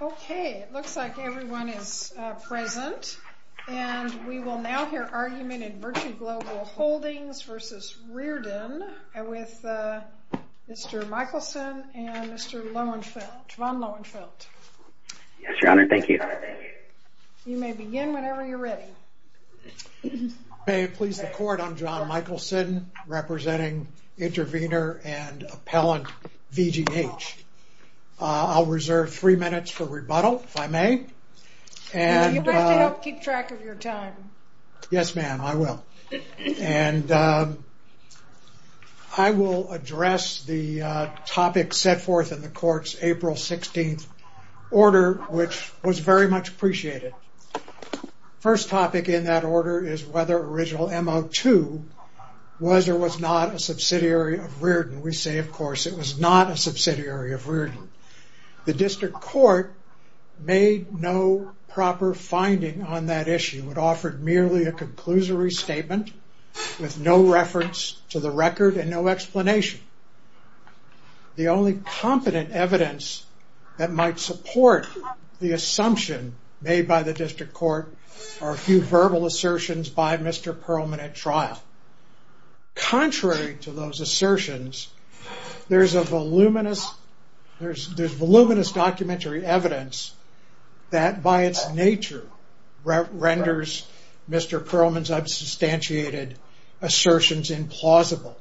Okay, it looks like everyone is present. And we will now hear argument in Virtue Global Hldgs v. Rearden with Mr. Michelson and Mr. Lowenfeldt. Yes, Your Honor. Thank you. You may begin whenever you're ready. May it please the Court, I'm John Michelson representing intervener and appellant VGH. I'll reserve three minutes for rebuttal, if I may. You better keep track of your time. Yes, ma'am, I will. And I will address the topic set forth in the Court's April 16th order, which was very much appreciated. First topic in that order is whether Original M02 was or was not a subsidiary of Rearden. And we say, of course, it was not a subsidiary of Rearden. The District Court made no proper finding on that issue. It offered merely a conclusory statement with no reference to the record and no explanation. The only competent evidence that might support the assumption made by the District Court are a few verbal assertions by Mr. Perlman at trial. Contrary to those assertions, there's voluminous documentary evidence that by its nature renders Mr. Perlman's unsubstantiated assertions implausible.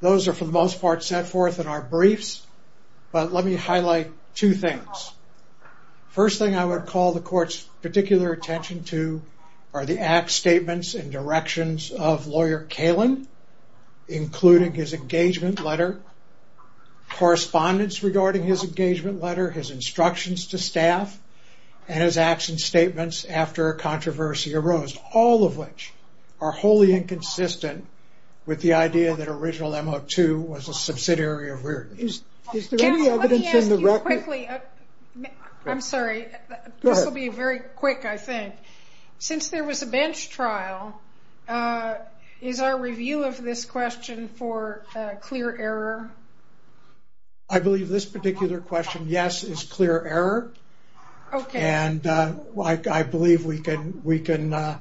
Those are for the most part set forth in our briefs. But let me highlight two things. First thing I would call the Court's particular attention to are the act statements and directions of Lawyer Kalin, including his engagement letter, correspondence regarding his engagement letter, his instructions to staff, and his action statements after a controversy arose, all of which are wholly inconsistent with the idea that Original M02 was a subsidiary of Rearden. Is there any evidence in the record... Since there was a bench trial, is our review of this question for clear error? I believe this particular question, yes, is clear error. Okay. And I believe we can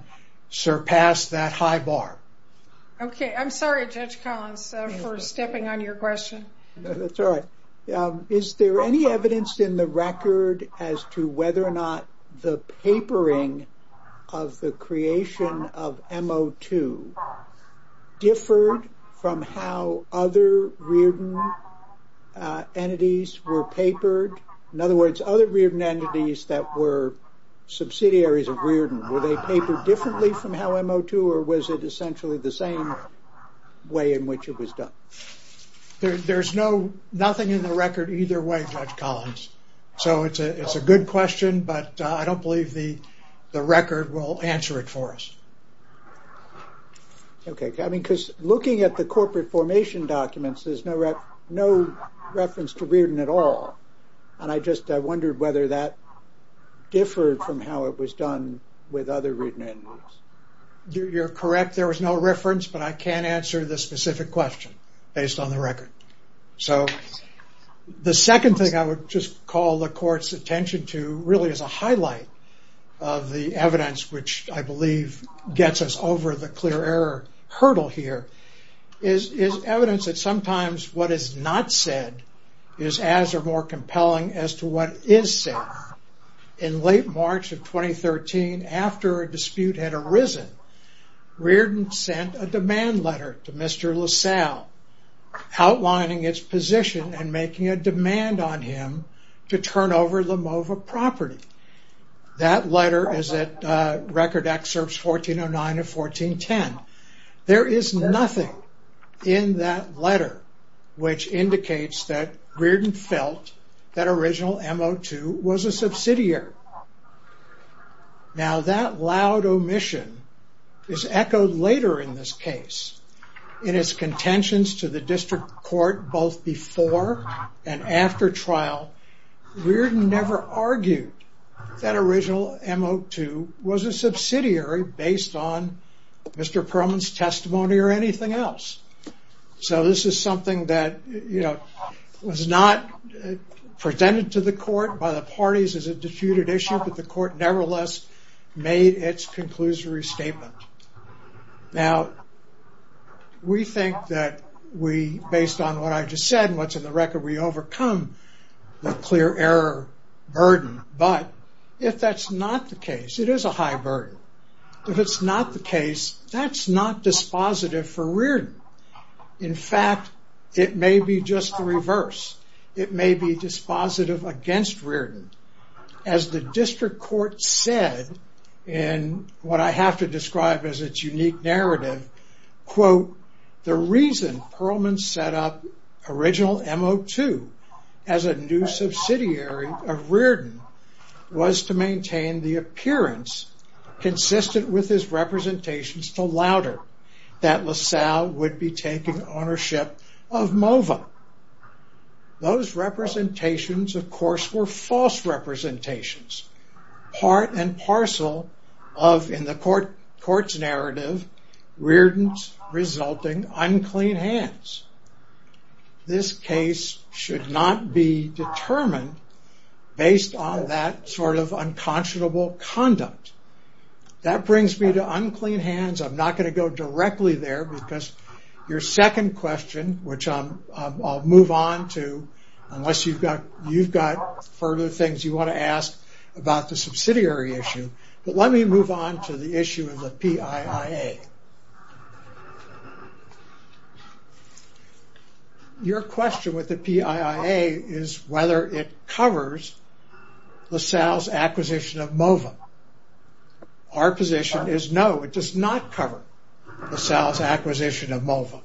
surpass that high bar. Okay. I'm sorry, Judge Collins, for stepping on your question. That's all right. Is there any evidence in the record as to whether or not the papering of the creation of M02 differed from how other Rearden entities were papered? In other words, other Rearden entities that were subsidiaries of Rearden, were they papered differently from how M02, or was it essentially the same way in which it was done? There's nothing in the record either way, Judge Collins. So it's a good question, but I don't believe the record will answer it for us. Okay. Because looking at the corporate formation documents, there's no reference to Rearden at all. And I just wondered whether that differed from how it was done with other Rearden entities. You're correct. There was no reference, but I can't answer this specific question based on the record. So the second thing I would just call the court's attention to, really as a highlight of the evidence, which I believe gets us over the clear error hurdle here, is evidence that sometimes what is not said is as or more compelling as to what is said. In late March of 2013, after a dispute had arisen, Rearden sent a demand letter to Mr. LaSalle outlining its position and making a demand on him to turn over LaMova property. That letter is at record excerpts 1409 and 1410. There is nothing in that letter which indicates that Rearden felt that original M02 was a subsidiary. Now that loud omission is echoed later in this case in its contentions to the district court both before and after trial. Rearden never argued that original M02 was a subsidiary based on Mr. Perlman's testimony or anything else. So this is something that was not presented to the court by the parties as a disputed issue, but the court nevertheless made its conclusory statement. Now we think that we, based on what I just said, and what's in the record, we overcome the clear error burden. But if that's not the case, it is a high burden. If it's not the case, that's not dispositive for Rearden. In fact, it may be just the reverse. It may be dispositive against Rearden. As the district court said, and what I have to describe as its unique narrative, quote, the reason Perlman set up original M02 as a new subsidiary of Rearden was to maintain the appearance consistent with his representations to Louder that LaSalle would be taking ownership of MOVA. Those representations, of course, were false representations, part and parcel of, in the court's narrative, Rearden's resulting unclean hands. This case should not be determined based on that sort of unconscionable conduct. That brings me to unclean hands. I'm not going to go directly there because your second question, which I'll move on to, unless you've got further things you want to ask about the subsidiary issue, but let me move on to the issue of the PIIA. Your question with the PIIA is whether it covers LaSalle's acquisition of MOVA. Our position is no, it does not cover LaSalle's acquisition of MOVA.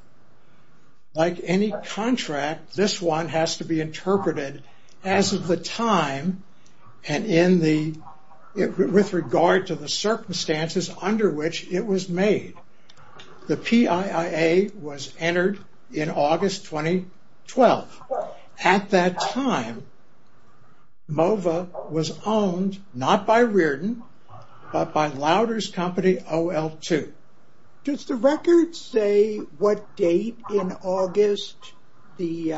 Like any contract, this one has to be interpreted as of the time and with regard to the circumstances under which it was made. The PIIA was entered in August 2012. Does the record say what date in August the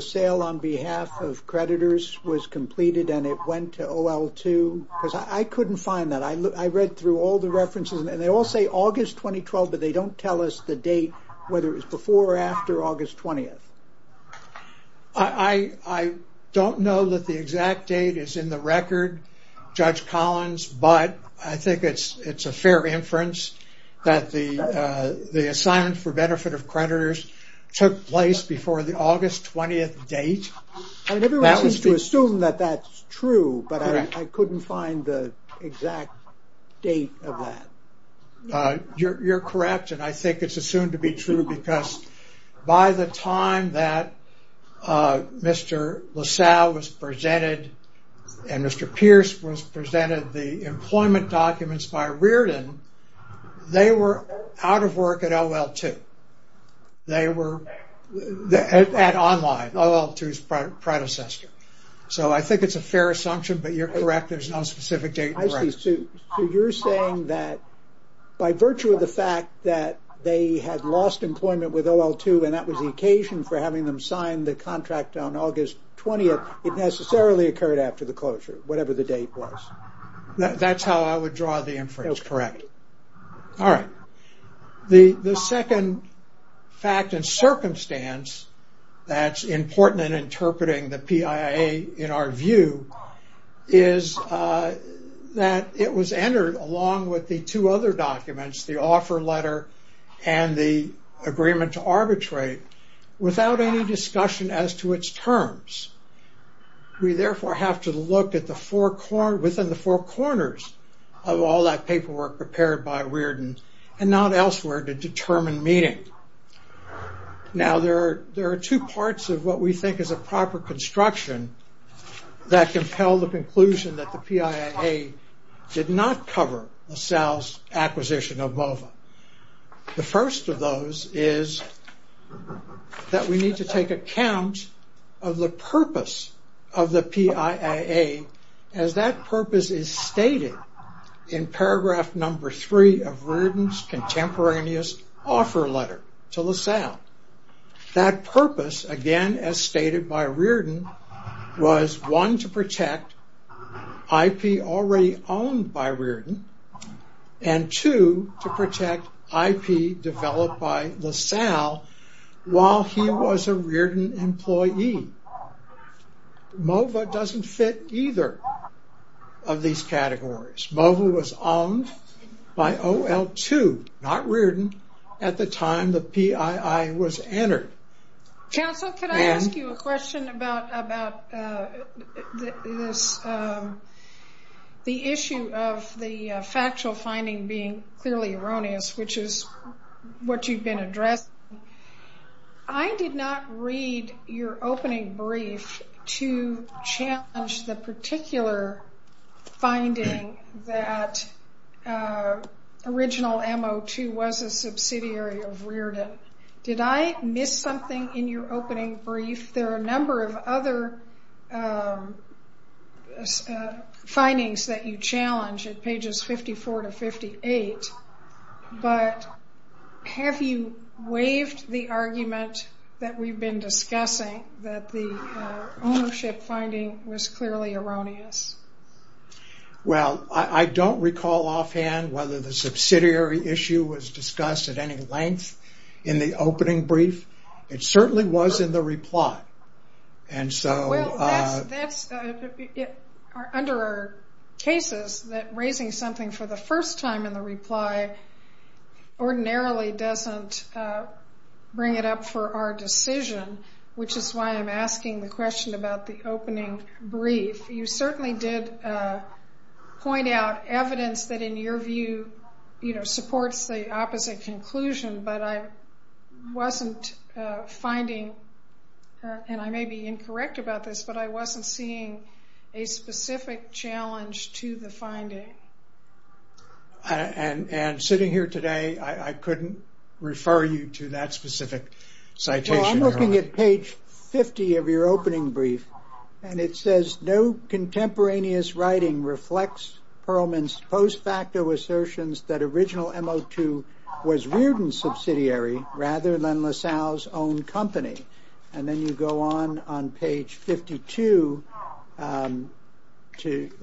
sale on behalf of creditors was completed and it went to OL2? I couldn't find that. I read through all the references and they all say August 2012, but they don't tell us the date, whether it was before or after August 20th. I don't know that the exact date is in the record. Judge Collins, but I think it's a fair inference that the assignment for benefit of creditors took place before the August 20th date. Everyone seems to assume that that's true, but I couldn't find the exact date of that. You're correct and I think it's assumed to be true because by the time that Mr. LaSalle was presented and Mr. Pierce was presented the employment documents by Reardon, they were out of work at OL2. They were at Online, OL2's predecessor. So I think it's a fair assumption, but you're correct. There's no specific date in the record. So you're saying that by virtue of the fact that they had lost employment with OL2 and that was the occasion for having them sign the contract on August 20th, it necessarily occurred after the closure, whatever the date was. That's how I would draw the inference, correct. All right. The second fact and circumstance that's important in interpreting the PIA in our view is that it was entered along with the two other documents, the offer letter and the agreement to arbitrate, without any discussion as to its terms. We therefore have to look within the four corners of all that paperwork prepared by Reardon and not elsewhere to determine meaning. Now there are two parts of what we think is a proper construction that compel the conclusion that the PIA did not cover LaSalle's acquisition of MOVA. The first of those is that we need to take account of the purpose of the PIA as that purpose is stated in paragraph number three of Reardon's contemporaneous offer letter to LaSalle. That purpose, again as stated by Reardon, was one, to protect IP already owned by Reardon and two, to protect IP developed by LaSalle while he was a Reardon employee. MOVA doesn't fit either of these categories. MOVA was owned by OL2, not Reardon, at the time the PII was entered. Chancellor, could I ask you a question about the issue of the factual finding being clearly erroneous, which is what you've been addressing. I did not read your opening brief to challenge the particular finding that original MO2 was a subsidiary of Reardon. Did I miss something in your opening brief? There are a number of other findings that you challenge at pages 54 to 58, but have you waived the argument that we've been discussing that the ownership finding was clearly erroneous? I don't recall offhand whether the subsidiary issue was discussed at any length in the opening brief. It certainly was in the reply. Well, under our cases, raising something for the first time in the reply ordinarily doesn't bring it up for our decision, which is why I'm asking the question about the opening brief. You certainly did point out evidence that in your view supports the opposite conclusion, but I wasn't finding, and I may be incorrect about this, but I wasn't seeing a specific challenge to the finding. Sitting here today, I couldn't refer you to that specific citation. I'm looking at page 50 of your opening brief, and it says, No contemporaneous writing reflects Perlman's post-facto assertions that Original MO2 was Riordan's subsidiary, rather than LaSalle's own company. And then you go on on page 52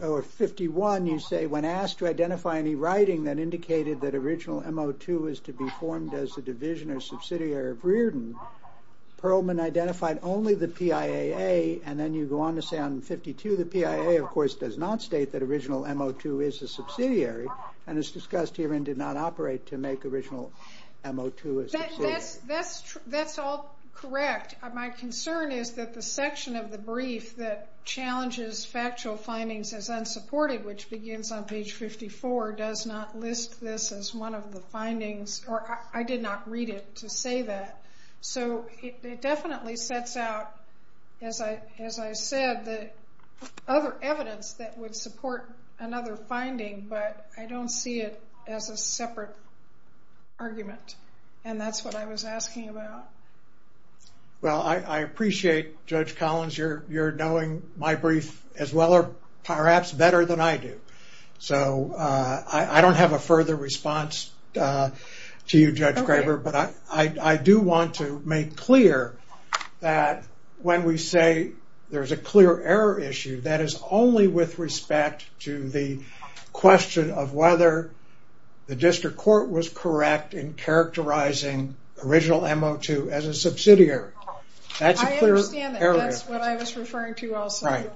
or 51. You say, When asked to identify any writing that indicated that Original MO2 was to be formed as a division or subsidiary of Riordan, Perlman identified only the PIAA, and then you go on to say on 52, the PIAA, of course, does not state that Original MO2 is a subsidiary, and is discussed here and did not operate to make Original MO2 a subsidiary. That's all correct. My concern is that the section of the brief that challenges factual findings as unsupported, which begins on page 54, does not list this as one of the findings, or I did not read it to say that. So it definitely sets out, as I said, the other evidence that would support another finding, but I don't see it as a separate argument. And that's what I was asking about. Well, I appreciate, Judge Collins, you're knowing my brief as well, or perhaps better than I do. So I don't have a further response to you, Judge Graber, but I do want to make clear that when we say there's a clear error issue, that is only with respect to the question of whether the district court was correct in characterizing Original MO2 as a subsidiary. I understand that. That's what I was referring to also.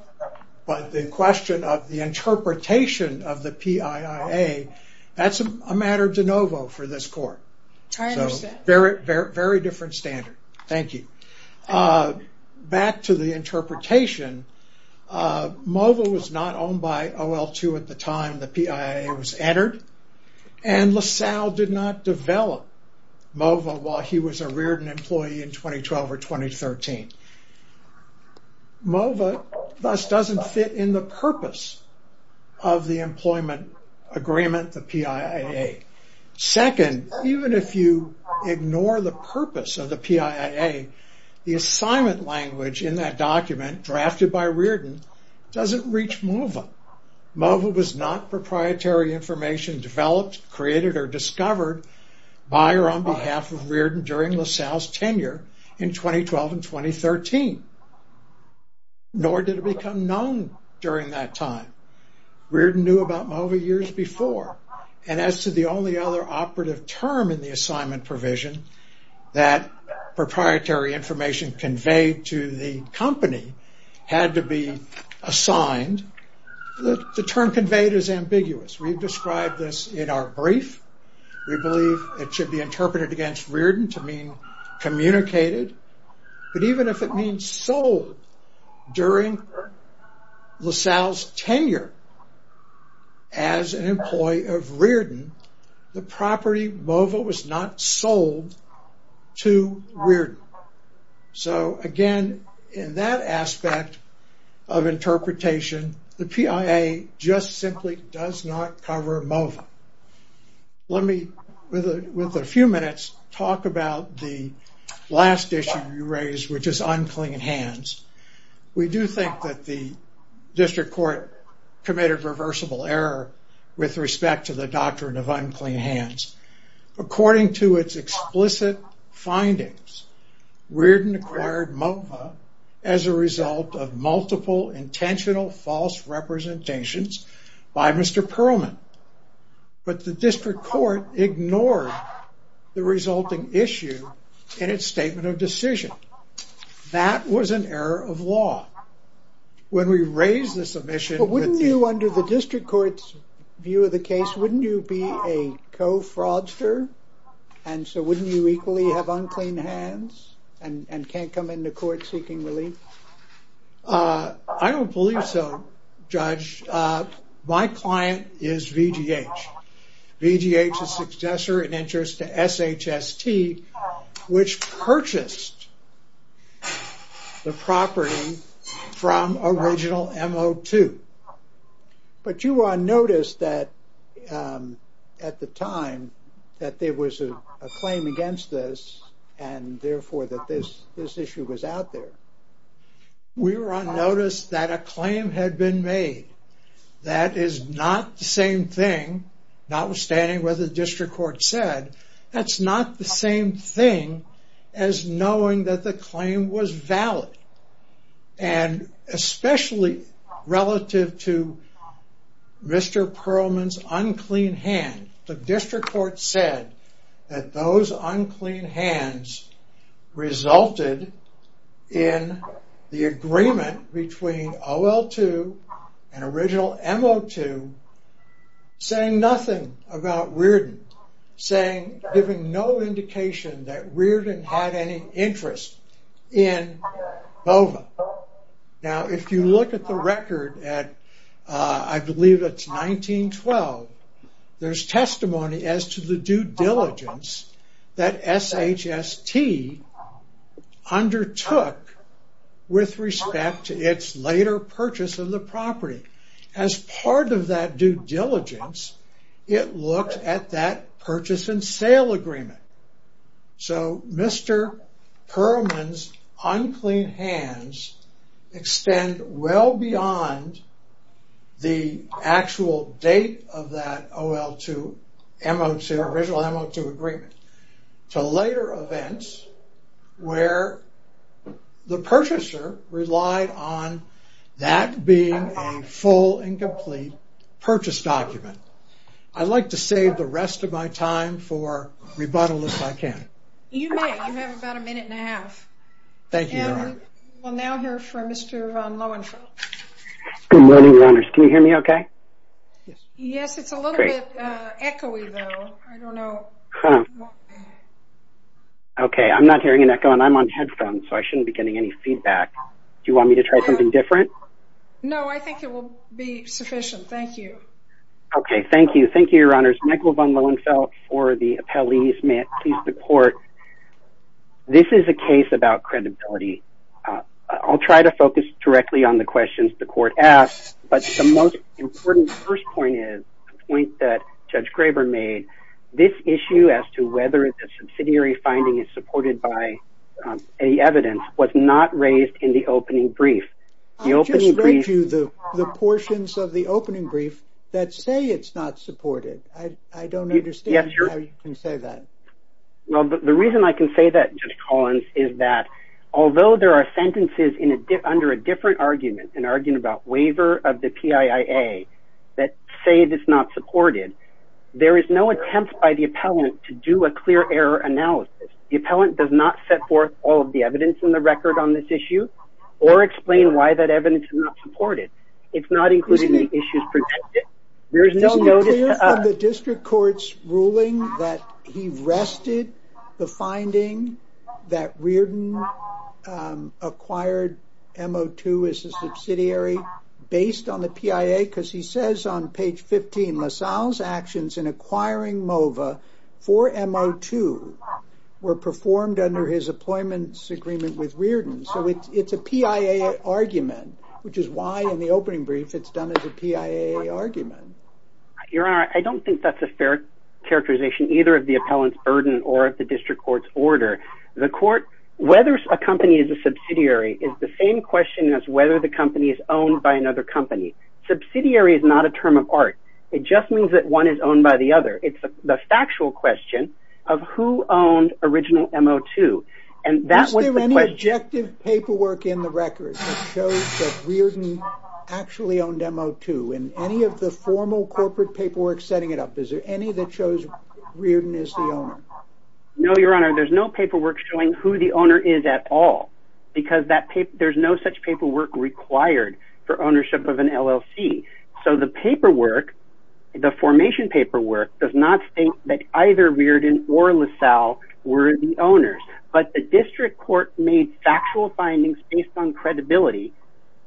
But the question of the interpretation of the PIAA, that's a matter de novo for this court. I understand. Very different standard. Thank you. Back to the interpretation, MOVA was not owned by OL2 at the time the PIAA was entered, and LaSalle did not develop MOVA while he was a Reardon employee in 2012 or 2013. MOVA thus doesn't fit in the purpose of the employment agreement, the PIAA. Second, even if you ignore the purpose of the PIAA, the assignment language in that document, drafted by Reardon, doesn't reach MOVA. MOVA was not proprietary information developed, created, or discovered by or on behalf of Reardon during LaSalle's tenure in 2012 and 2013. Nor did it become known during that time. Reardon knew about MOVA years before, and as to the only other operative term in the assignment provision, that proprietary information conveyed to the company had to be assigned, the term conveyed is ambiguous. We've described this in our brief. We believe it should be interpreted against Reardon to mean communicated, but even if it means sold during LaSalle's tenure as an employee of Reardon, the property MOVA was not sold to Reardon. So again, in that aspect of interpretation, the PIAA just simply does not cover MOVA. Let me, with a few minutes, talk about the last issue you raised, which is unclean hands. We do think that the district court committed reversible error with respect to the doctrine of unclean hands. According to its explicit findings, Reardon acquired MOVA as a result of multiple intentional false representations by Mr. Perlman, but the district court ignored the resulting issue in its statement of decision. That was an error of law. When we raised the submission... But wouldn't you, under the district court's view of the case, wouldn't you be a co-fraudster? And so wouldn't you equally have unclean hands and can't come into court seeking relief? I don't believe so, Judge. My client is VGH. VGH is successor in interest to SHST, which purchased the property from original MO2. But you were on notice that, at the time, that there was a claim against this and therefore that this issue was out there. We were on notice that a claim had been made. That is not the same thing, notwithstanding what the district court said. That's not the same thing as knowing that the claim was valid. And especially relative to Mr. Perlman's unclean hand. The district court said that those unclean hands resulted in the agreement between OL2 and original MO2 saying nothing about Reardon. Saying, giving no indication that Reardon had any interest in BOVA. Now if you look at the record at I believe it's 1912, there's testimony as to the due diligence that SHST undertook with respect to its later purchase of the property. As part of that due diligence, it looked at that purchase and sale agreement. So Mr. Perlman's unclean hands extend well beyond the actual date of that OL2, original MO2 agreement. To later events where the purchaser relied on that being a full and complete purchase document. I'd like to save the rest of my time for rebuttal if I can. You may. You have about a minute and a half. Thank you, Your Honor. We'll now hear from Mr. Lohenfeld. Good morning, Your Honors. Can you hear me okay? Yes, it's a little bit echoey though. I don't know. Okay, I'm not hearing an echo and I'm on headphones so I shouldn't be getting any feedback. Do you want me to try something different? No, I think it will be sufficient. Thank you. Okay, thank you. Thank you, Your Honors. Michael von Lohenfeld for the appellees. May it please the court. This is a case about credibility. I'll try to focus directly on the questions the court asked, but the most important first point is a point that Judge Graber made. This issue as to whether the subsidiary finding is supported by any evidence was not raised in the opening brief. I just read you the portions of the opening brief that say it's not supported. I don't understand how you can say that. Well, the reason I can say that, Judge Collins, is that although there are sentences under a different argument, an argument about waiver of the PIIA that say it is not supported, there is no attempt by the appellant to do a clear error analysis. The appellant does not set forth all of the evidence in the record on this issue or explain why that evidence is not supported. It's not included in the issues presented. There is no notice of... Is it clear from the district court's ruling that he rested the finding that Reardon acquired MO2 as a subsidiary based on the PIIA? Because he says on page 15, LaSalle's actions in acquiring MOVA for MO2 were performed under his appointments agreement with Reardon. So it's a PIIA argument, which is why in the opening brief it's done as a PIIA argument. Your Honor, I don't think that's a fair characterization either of the appellant's burden or of the district court's order. Whether a company is a subsidiary is the same question as whether the company is owned by another company. Subsidiary is not a term of art. It just means that one is owned by the other. It's the factual question of who owned original MO2. Is there any objective paperwork in the record that shows that Reardon actually owned MO2? In any of the formal corporate paperwork setting it up, is there any that shows Reardon is the owner? No, Your Honor. There's no paperwork showing who the owner is at all because there's no such paperwork required for ownership of an LLC. So the paperwork, the formation paperwork, does not state that either Reardon or LaSalle were the owners. But the district court made factual findings based on credibility,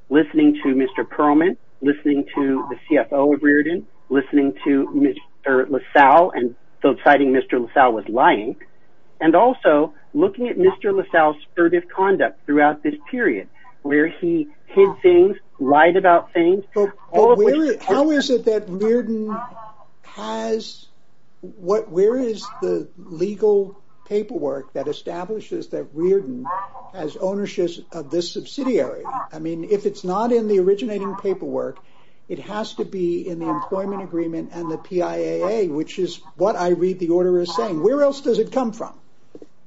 listening to Mr. Perlman, listening to the CFO of Reardon, listening to Mr. LaSalle and citing Mr. LaSalle was lying, and also looking at Mr. LaSalle's assertive conduct throughout this period where he hid things, lied about things. How is it that Reardon has... that establishes that Reardon has ownership of this subsidiary? I mean, if it's not in the originating paperwork, it has to be in the employment agreement and the PIAA, which is what I read the order as saying. Where else does it come from?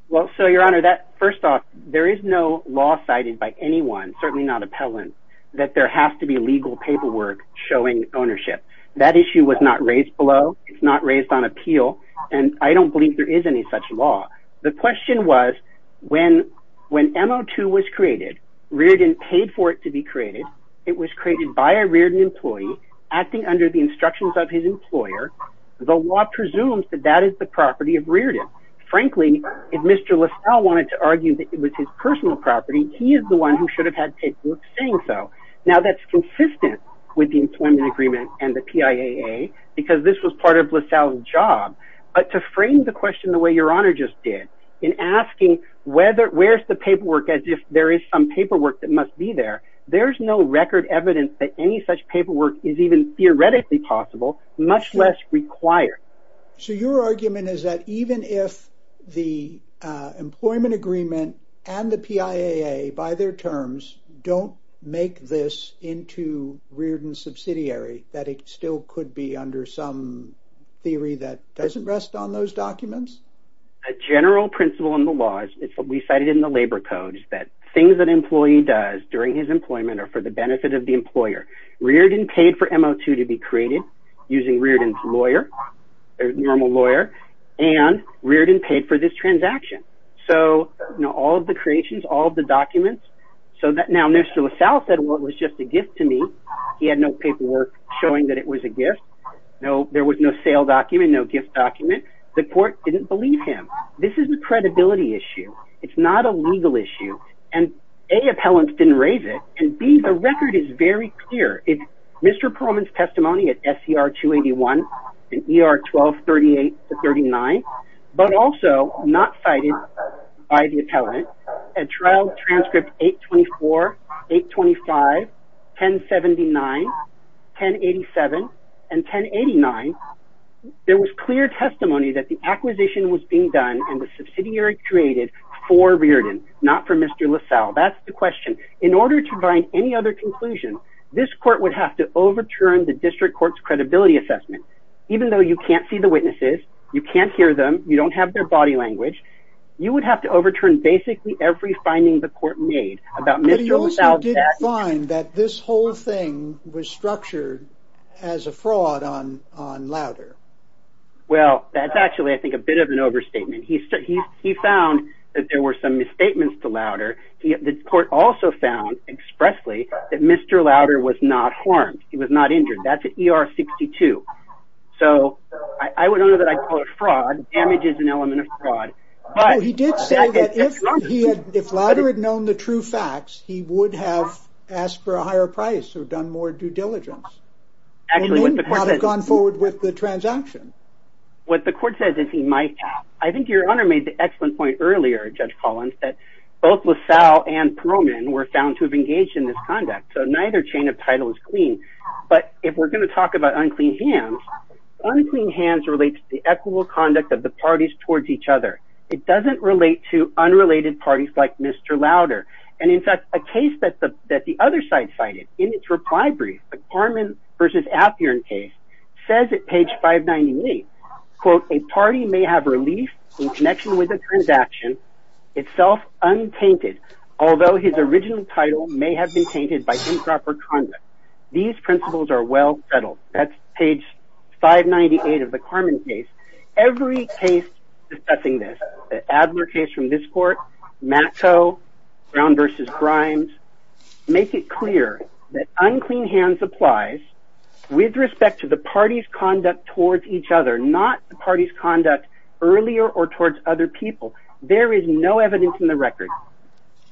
Well, so, Your Honor, that... First off, there is no law cited by anyone, certainly not appellant, that there has to be legal paperwork showing ownership. That issue was not raised below. It's not raised on appeal. And I don't believe there is any such law. The question was, when M02 was created, Reardon paid for it to be created. It was created by a Reardon employee acting under the instructions of his employer. The law presumes that that is the property of Reardon. Frankly, if Mr. LaSalle wanted to argue that it was his personal property, he is the one who should have had paperwork saying so. Now, that's consistent with the employment agreement and the PIAA, because this was part of LaSalle's job but to frame the question the way Your Honor just did, in asking where's the paperwork as if there is some paperwork that must be there, there's no record evidence that any such paperwork is even theoretically possible, much less required. So, your argument is that even if the employment agreement and the PIAA, by their terms, don't make this into Reardon subsidiary, that it still could be under some theory that doesn't rest on those documents? A general principle in the laws, we cited in the labor codes, that things that an employee does during his employment are for the benefit of the employer. Reardon paid for MO2 to be created using Reardon's lawyer, their normal lawyer, and Reardon paid for this transaction. So, all of the creations, all of the documents, so that now Mr. LaSalle said, well, it was just a gift to me. He had no paperwork showing that it was a gift. There was no sale document, no gift document. The court didn't believe him. This is a credibility issue. It's not a legal issue. And A, appellants didn't raise it, and B, the record is very clear. It's Mr. Perlman's testimony at SCR 281 and ER 1238-39, but also not cited by the appellant At trial transcript 824, 825, 1079, 1087, and 1089, there was clear testimony that the acquisition was being done and the subsidiary created for Reardon, not for Mr. LaSalle. That's the question. In order to find any other conclusion, this court would have to overturn the district court's credibility assessment. Even though you can't see the witnesses, you can't hear them, you don't have their body language, you would have to overturn basically every finding the court made about Mr. LaSalle's... But he also did find that this whole thing was structured as a fraud on Lauder. Well, that's actually, I think, a bit of an overstatement. He found that there were some misstatements to Lauder. The court also found expressly that Mr. Lauder was not harmed. He was not injured. That's at ER 62. So I would honor that I call it fraud. Damage is an element of fraud. He did say that if Lauder had known the true facts, he would have asked for a higher price or done more due diligence. And then probably gone forward with the transaction. What the court says is he might have. I think Your Honor made the excellent point earlier, Judge Collins, that both LaSalle and Perlman were found to have engaged in this conduct. So neither chain of title is clean. But if we're going to talk about unclean hands, unclean hands relates to the equitable conduct of the parties towards each other. It doesn't relate to unrelated parties like Mr. Lauder. And in fact, a case that the other side cited in its reply brief, the Carman versus Appian case, says at page 598, quote, a party may have relief in connection with a transaction itself untainted, although his original title may have been tainted by improper conduct. These principles are well settled. That's page 598 of the Carman case. Every case discussing this, the Adler case from this court, Matto, Brown versus Grimes, make it clear that unclean hands applies with respect to the party's conduct towards each other, not the party's conduct earlier or towards other people.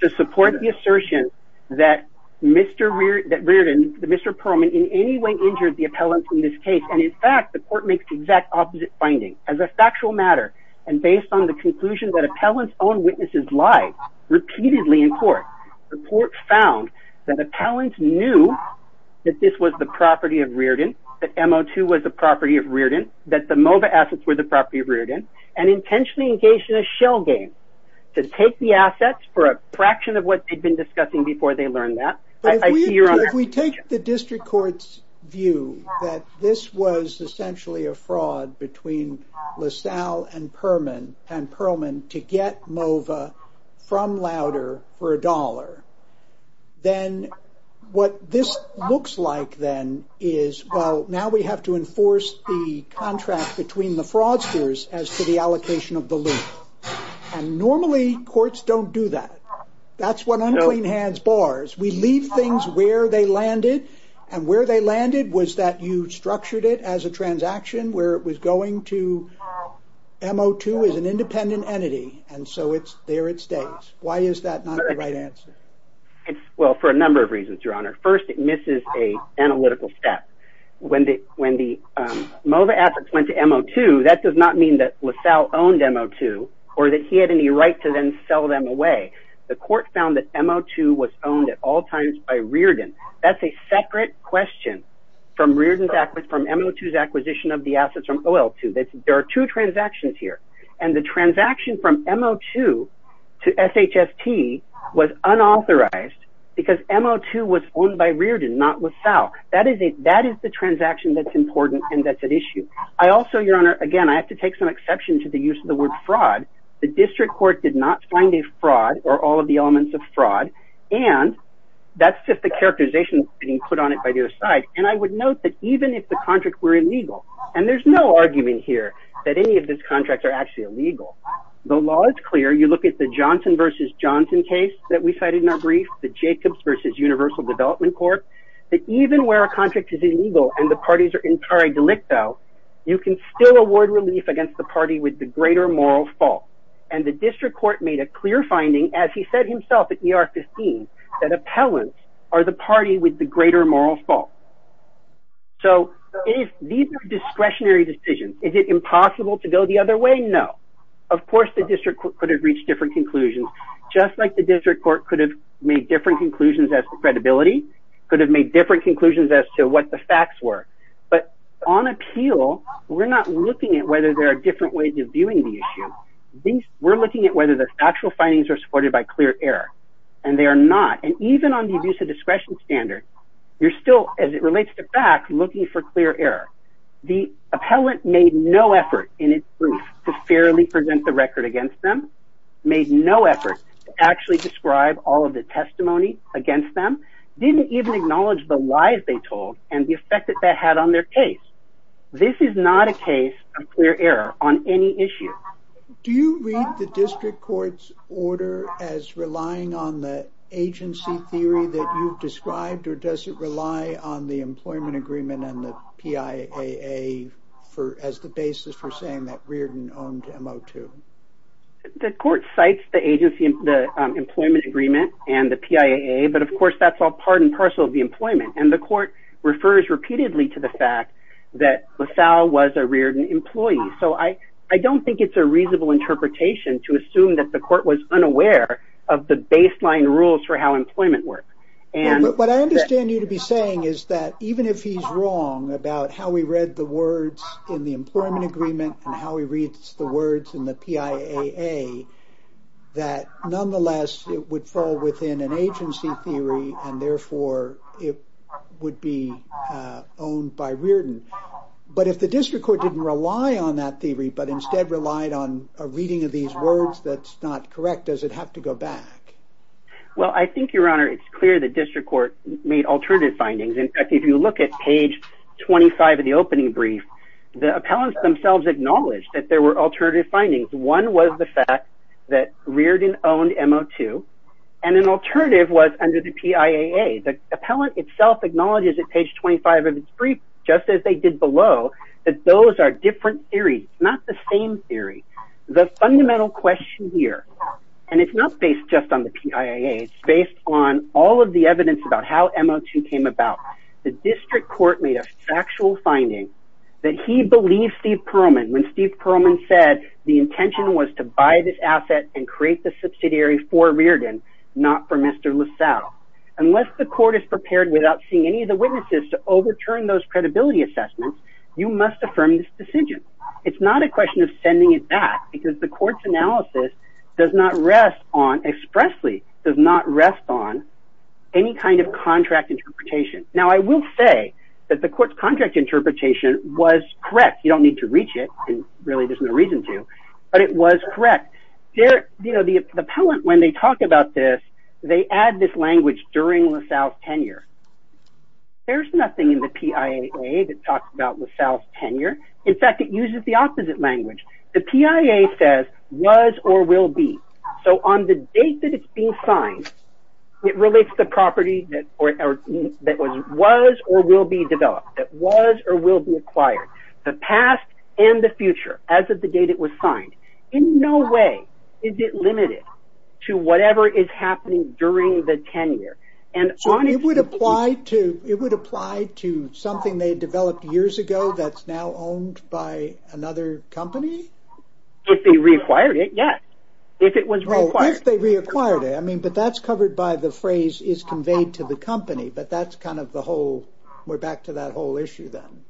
to support the assertion that Mr. Reardon, Mr. Perlman in any way injured the appellant in this case. And in fact, the court makes the exact opposite finding. As a factual matter, and based on the conclusion that appellant's own witnesses lied repeatedly in court, the court found that appellant knew that this was the property of Reardon, that MO2 was the property of Reardon, that the MOVA assets were the property of Reardon, and intentionally engaged in a shell game to take the assets for a fraction of what they'd been discussing before they learned that. If we take the district court's view that this was essentially a fraud between LaSalle and Perlman to get MOVA from Louder for a dollar, then what this looks like then is, well, now we have to enforce the contract between the fraudsters as to the allocation of the loot. And normally courts don't do that. That's what unclean hands bars. We leave things where they landed, and where they landed was that you structured it as a transaction where it was going to... MO2 is an independent entity, and so there it stays. Why is that not the right answer? Well, for a number of reasons, Your Honor. First, it misses an analytical step. When the MOVA assets went to MO2, that does not mean that LaSalle owned MO2, or that he had any right to then sell them away. The court found that MO2 was owned at all times by Riordan. That's a separate question from Riordan's acquisition of the assets from OL2. There are two transactions here. And the transaction from MO2 to SHST was unauthorized because MO2 was owned by Riordan, not LaSalle. That is the transaction that's important and that's at issue. I also, Your Honor, again, I have to take some exception to the use of the word fraud. The district court did not find a fraud or all of the elements of fraud. And that's just the characterization being put on it by the other side. And I would note that even if the contract were illegal, and there's no argument here that any of these contracts are actually illegal, the law is clear. You look at the Johnson v. Johnson case that we cited in our brief, the Jacobs v. Universal Development Court, that even where a contract is illegal and the parties are in pare delicto, you can still award relief against the party with the greater moral fault. And the district court made a clear finding, as he said himself at ER 15, that appellants are the party with the greater moral fault. So these are discretionary decisions. Is it impossible to go the other way? No. Of course the district court could have reached different conclusions, just like the district court could have made different conclusions as to credibility, could have made different conclusions as to what the facts were. But on appeal, we're not looking at whether there are different ways of viewing the issue. We're looking at whether the actual findings are supported by clear error. And they are not. And even on the abuse of discretion standard, you're still, as it relates to facts, looking for clear error. The appellant made no effort in its brief to fairly present the record against them, made no effort to actually describe all of the testimony against them, didn't even acknowledge the lies they told and the effect that that had on their case. This is not a case of clear error on any issue. Do you read the district court's order as relying on the agency theory that you've described, or does it rely on the employment agreement and the PIAA as the basis for saying that Reardon owned M02? The court cites the employment agreement and the PIAA, but of course that's all part and parcel of the employment. And the court refers repeatedly to the fact that LaSalle was a Reardon employee. So I don't think it's a reasonable interpretation to assume that the court was unaware of the baseline rules for how employment works. What I understand you to be saying is that even if he's wrong about how he read the words in the employment agreement and how he reads the words in the PIAA, that nonetheless, it would fall within an agency theory and therefore it would be owned by Reardon. But if the district court didn't rely on that theory but instead relied on a reading of these words that's not correct, does it have to go back? Well, I think, Your Honor, it's clear the district court made alternative findings. In fact, if you look at page 25 of the opening brief, the appellants themselves acknowledged that there were alternative findings. One was the fact that Reardon owned M02, and an alternative was under the PIAA. The appellant itself acknowledges at page 25 of its brief, just as they did below, that those are different theories, not the same theory. The fundamental question here, and it's not based just on the PIAA, it's based on all of the evidence about how M02 came about. The district court made a factual finding that he believed Steve Perlman when Steve Perlman said the intention was to buy this asset and create the subsidiary for Reardon, not for Mr. LaSalle. Unless the court is prepared without seeing any of the witnesses to overturn those credibility assessments, you must affirm this decision. It's not a question of sending it back because the court's analysis does not rest on, expressly, does not rest on any kind of contract interpretation. Now, I will say that the court's contract interpretation was correct. You don't need to reach it, and really there's no reason to, but it was correct. You know, the appellant, when they talk about this, they add this language during LaSalle's tenure. There's nothing in the PIAA that talks about LaSalle's tenure. In fact, it uses the opposite language. The PIAA says was or will be. So on the date that it's being signed, it relates to the property that was or will be developed, that was or will be acquired, the past and the future as of the date it was signed. In no way is it limited to whatever is happening during the tenure. So it would apply to something they developed years ago that's now owned by another company? If they reacquired it, yes. If it was reacquired. If they reacquired it. I mean, but that's covered by the phrase is conveyed to the company, but that's kind of the whole, we're back to that whole issue then.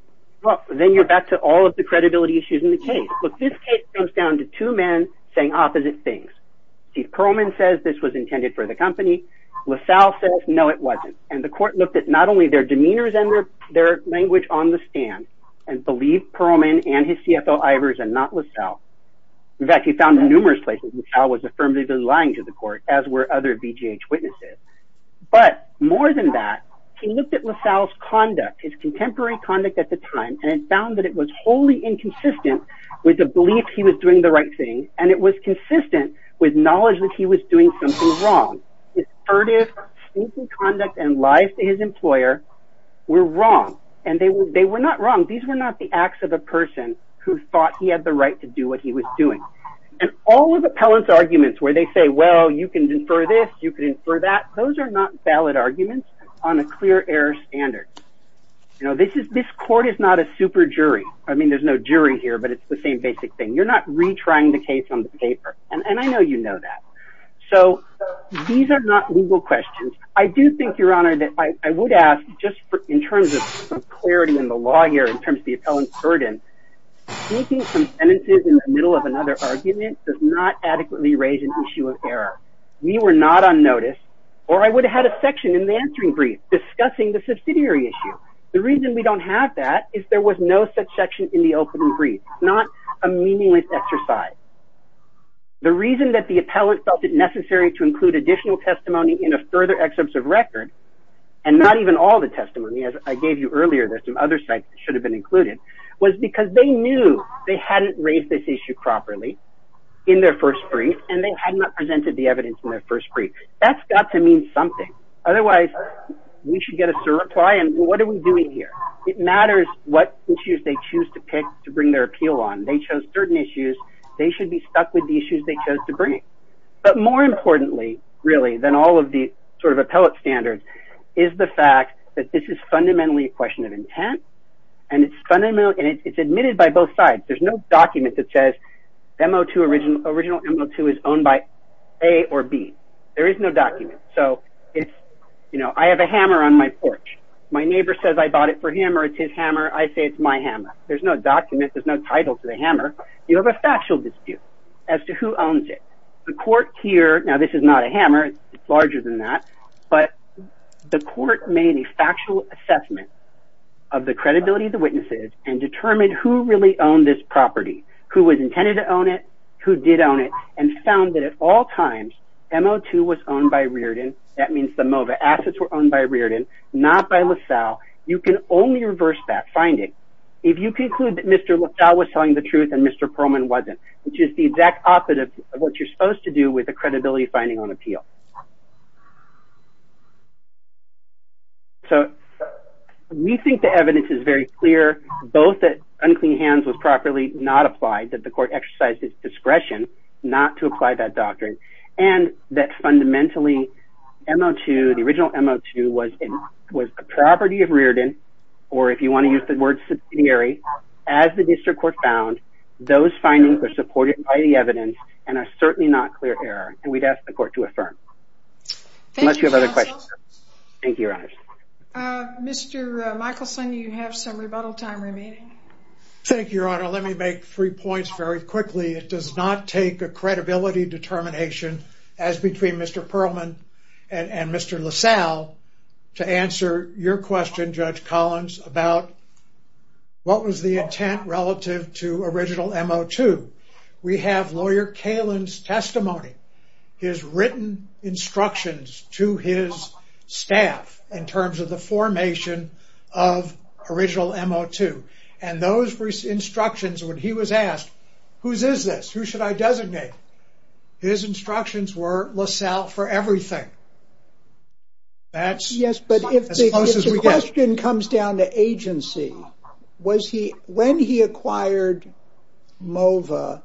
Well, then you're back to all of the credibility issues in the case. Look, this case comes down to two men saying opposite things. Chief Pearlman says this was intended for the company. LaSalle says, no, it wasn't. And the court looked at not only their demeanors and their language on the stand and believed Pearlman and his CFO Ivers and not LaSalle. In fact, he found in numerous places LaSalle was affirmatively lying to the court, as were other BGH witnesses. But more than that, he looked at LaSalle's conduct, his contemporary conduct at the time and found that it was wholly inconsistent with the belief he was doing the right thing and it was consistent with knowledge that he was doing something wrong. His furtive, stinking conduct and lies to his employer were wrong and they were not wrong. These were not the acts of a person who thought he had the right to do what he was doing. And all of the appellant's arguments where they say, well, you can infer this, you can infer that, those are not valid arguments on a clear air standard. This court is not a super jury. I mean, there's no jury here, but it's the same basic thing. You're not retrying the case on the paper. And I know you know that. So these are not legal questions. I do think, Your Honor, that I would ask just in terms of clarity in the law here, in terms of the appellant's burden, speaking some sentences in the middle of another argument does not adequately raise an issue of error. We were not on notice or I would have had a section in the answering brief discussing the subsidiary issue. The reason we don't have that is there was no such section in the opening brief. It's not a meaningless exercise. The reason that the appellant felt it necessary to include additional testimony in a further excerpt of record, and not even all the testimony, as I gave you earlier, there's some other sites that should have been included, was because they knew they hadn't raised this issue properly in their first brief, and they had not presented the evidence in their first brief. That's got to mean something. Otherwise, we should get us a reply and what are we doing here? It matters what issues they choose to pick to bring their appeal on. They chose certain issues. They should be stuck with the issues they chose to bring. But more importantly, really, than all of the appellate standards is the fact that this is fundamentally a question of intent, and it's admitted by both sides. There's no document that says original M02 is owned by A or B. There is no document. I have a hammer on my porch. My neighbor says I bought it for him or it's his hammer. I say it's my hammer. There's no document. There's no title to the hammer. You have a factual dispute as to who owns it. The court here, now this is not a hammer. It's larger than that. But the court made a factual assessment of the credibility of the witnesses and determined who really owned this property, who was intended to own it, who did own it, and found that at all times, M02 was owned by Riordan. That means the MOVA assets were owned by Riordan, not by LaSalle. You can only reverse that finding if you conclude that Mr. LaSalle was telling the truth and Mr. Perlman wasn't, which is the exact opposite of what you're supposed to do with the credibility finding on appeal. So we think the evidence is very clear, both that unclean hands was properly not applied, that the court exercised its discretion not to apply that doctrine, and that fundamentally M02, the original M02, was a property of Riordan, or if you want to use the word subsidiary, as the district court found, those findings are supported by the evidence and are certainly not clear error, and we'd ask the court to affirm. Thank you, counsel. Unless you have other questions. Thank you, your honors. Mr. Michelson, you have some rebuttal time remaining. Thank you, your honor. Let me make three points very quickly. It does not take a credibility determination as between Mr. Perlman and Mr. LaSalle to answer your question, Judge Collins, about what was the intent relative to original M02. We have lawyer Kalin's testimony, his written instructions to his staff in terms of the formation of original M02, and those instructions, when he was asked, whose is this? Who should I designate? His instructions were LaSalle for everything. That's as close as we get. The question comes down to agency. When he acquired MOVA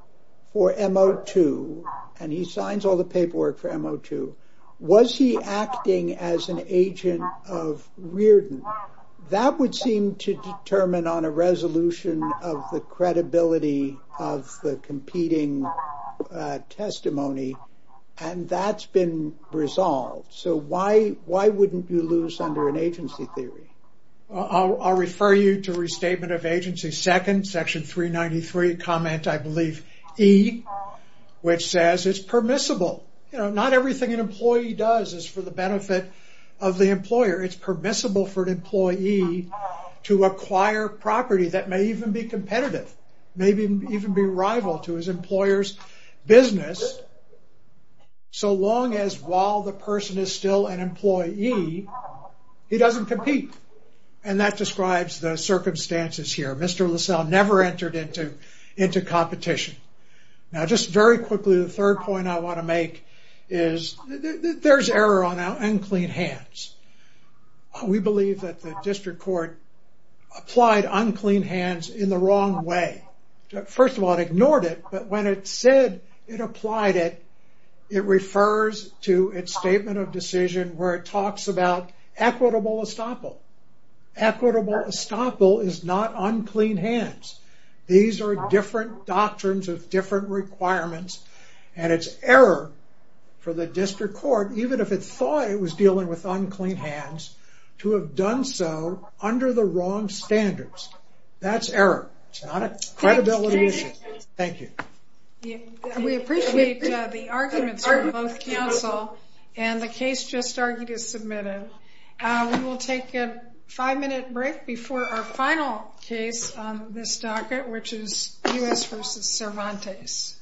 for M02, and he signs all the paperwork for M02, was he acting as an agent of Reardon? That would seem to determine on a resolution of the credibility of the competing testimony, and that's been resolved. Why wouldn't you lose under an agency theory? I'll refer you to restatement of agency second, section 393, comment I believe, E, which says it's permissible. Not everything an employee does is for the benefit of the employer. It's permissible for an employee to acquire property that may even be competitive, maybe even be rival to his employer's business, so long as while the person is still an employee, he doesn't compete, and that describes the circumstances here. Mr. LaSalle never entered into competition. Now just very quickly, the third point I want to make is there's error on unclean hands. We believe that the district court applied unclean hands in the wrong way. First of all, it ignored it, but when it said it applied it, it refers to its statement of decision where it talks about equitable estoppel. Equitable estoppel is not unclean hands. These are different doctrines of different requirements, and it's error for the district court, even if it thought it was dealing with unclean hands, to have done so under the wrong standards. That's error. It's not a credibility issue. Thank you. We appreciate the arguments from both counsel, and the case just argued is submitted. We will take a five-minute break before our final case on this docket, which is U.S. v. Cervantes.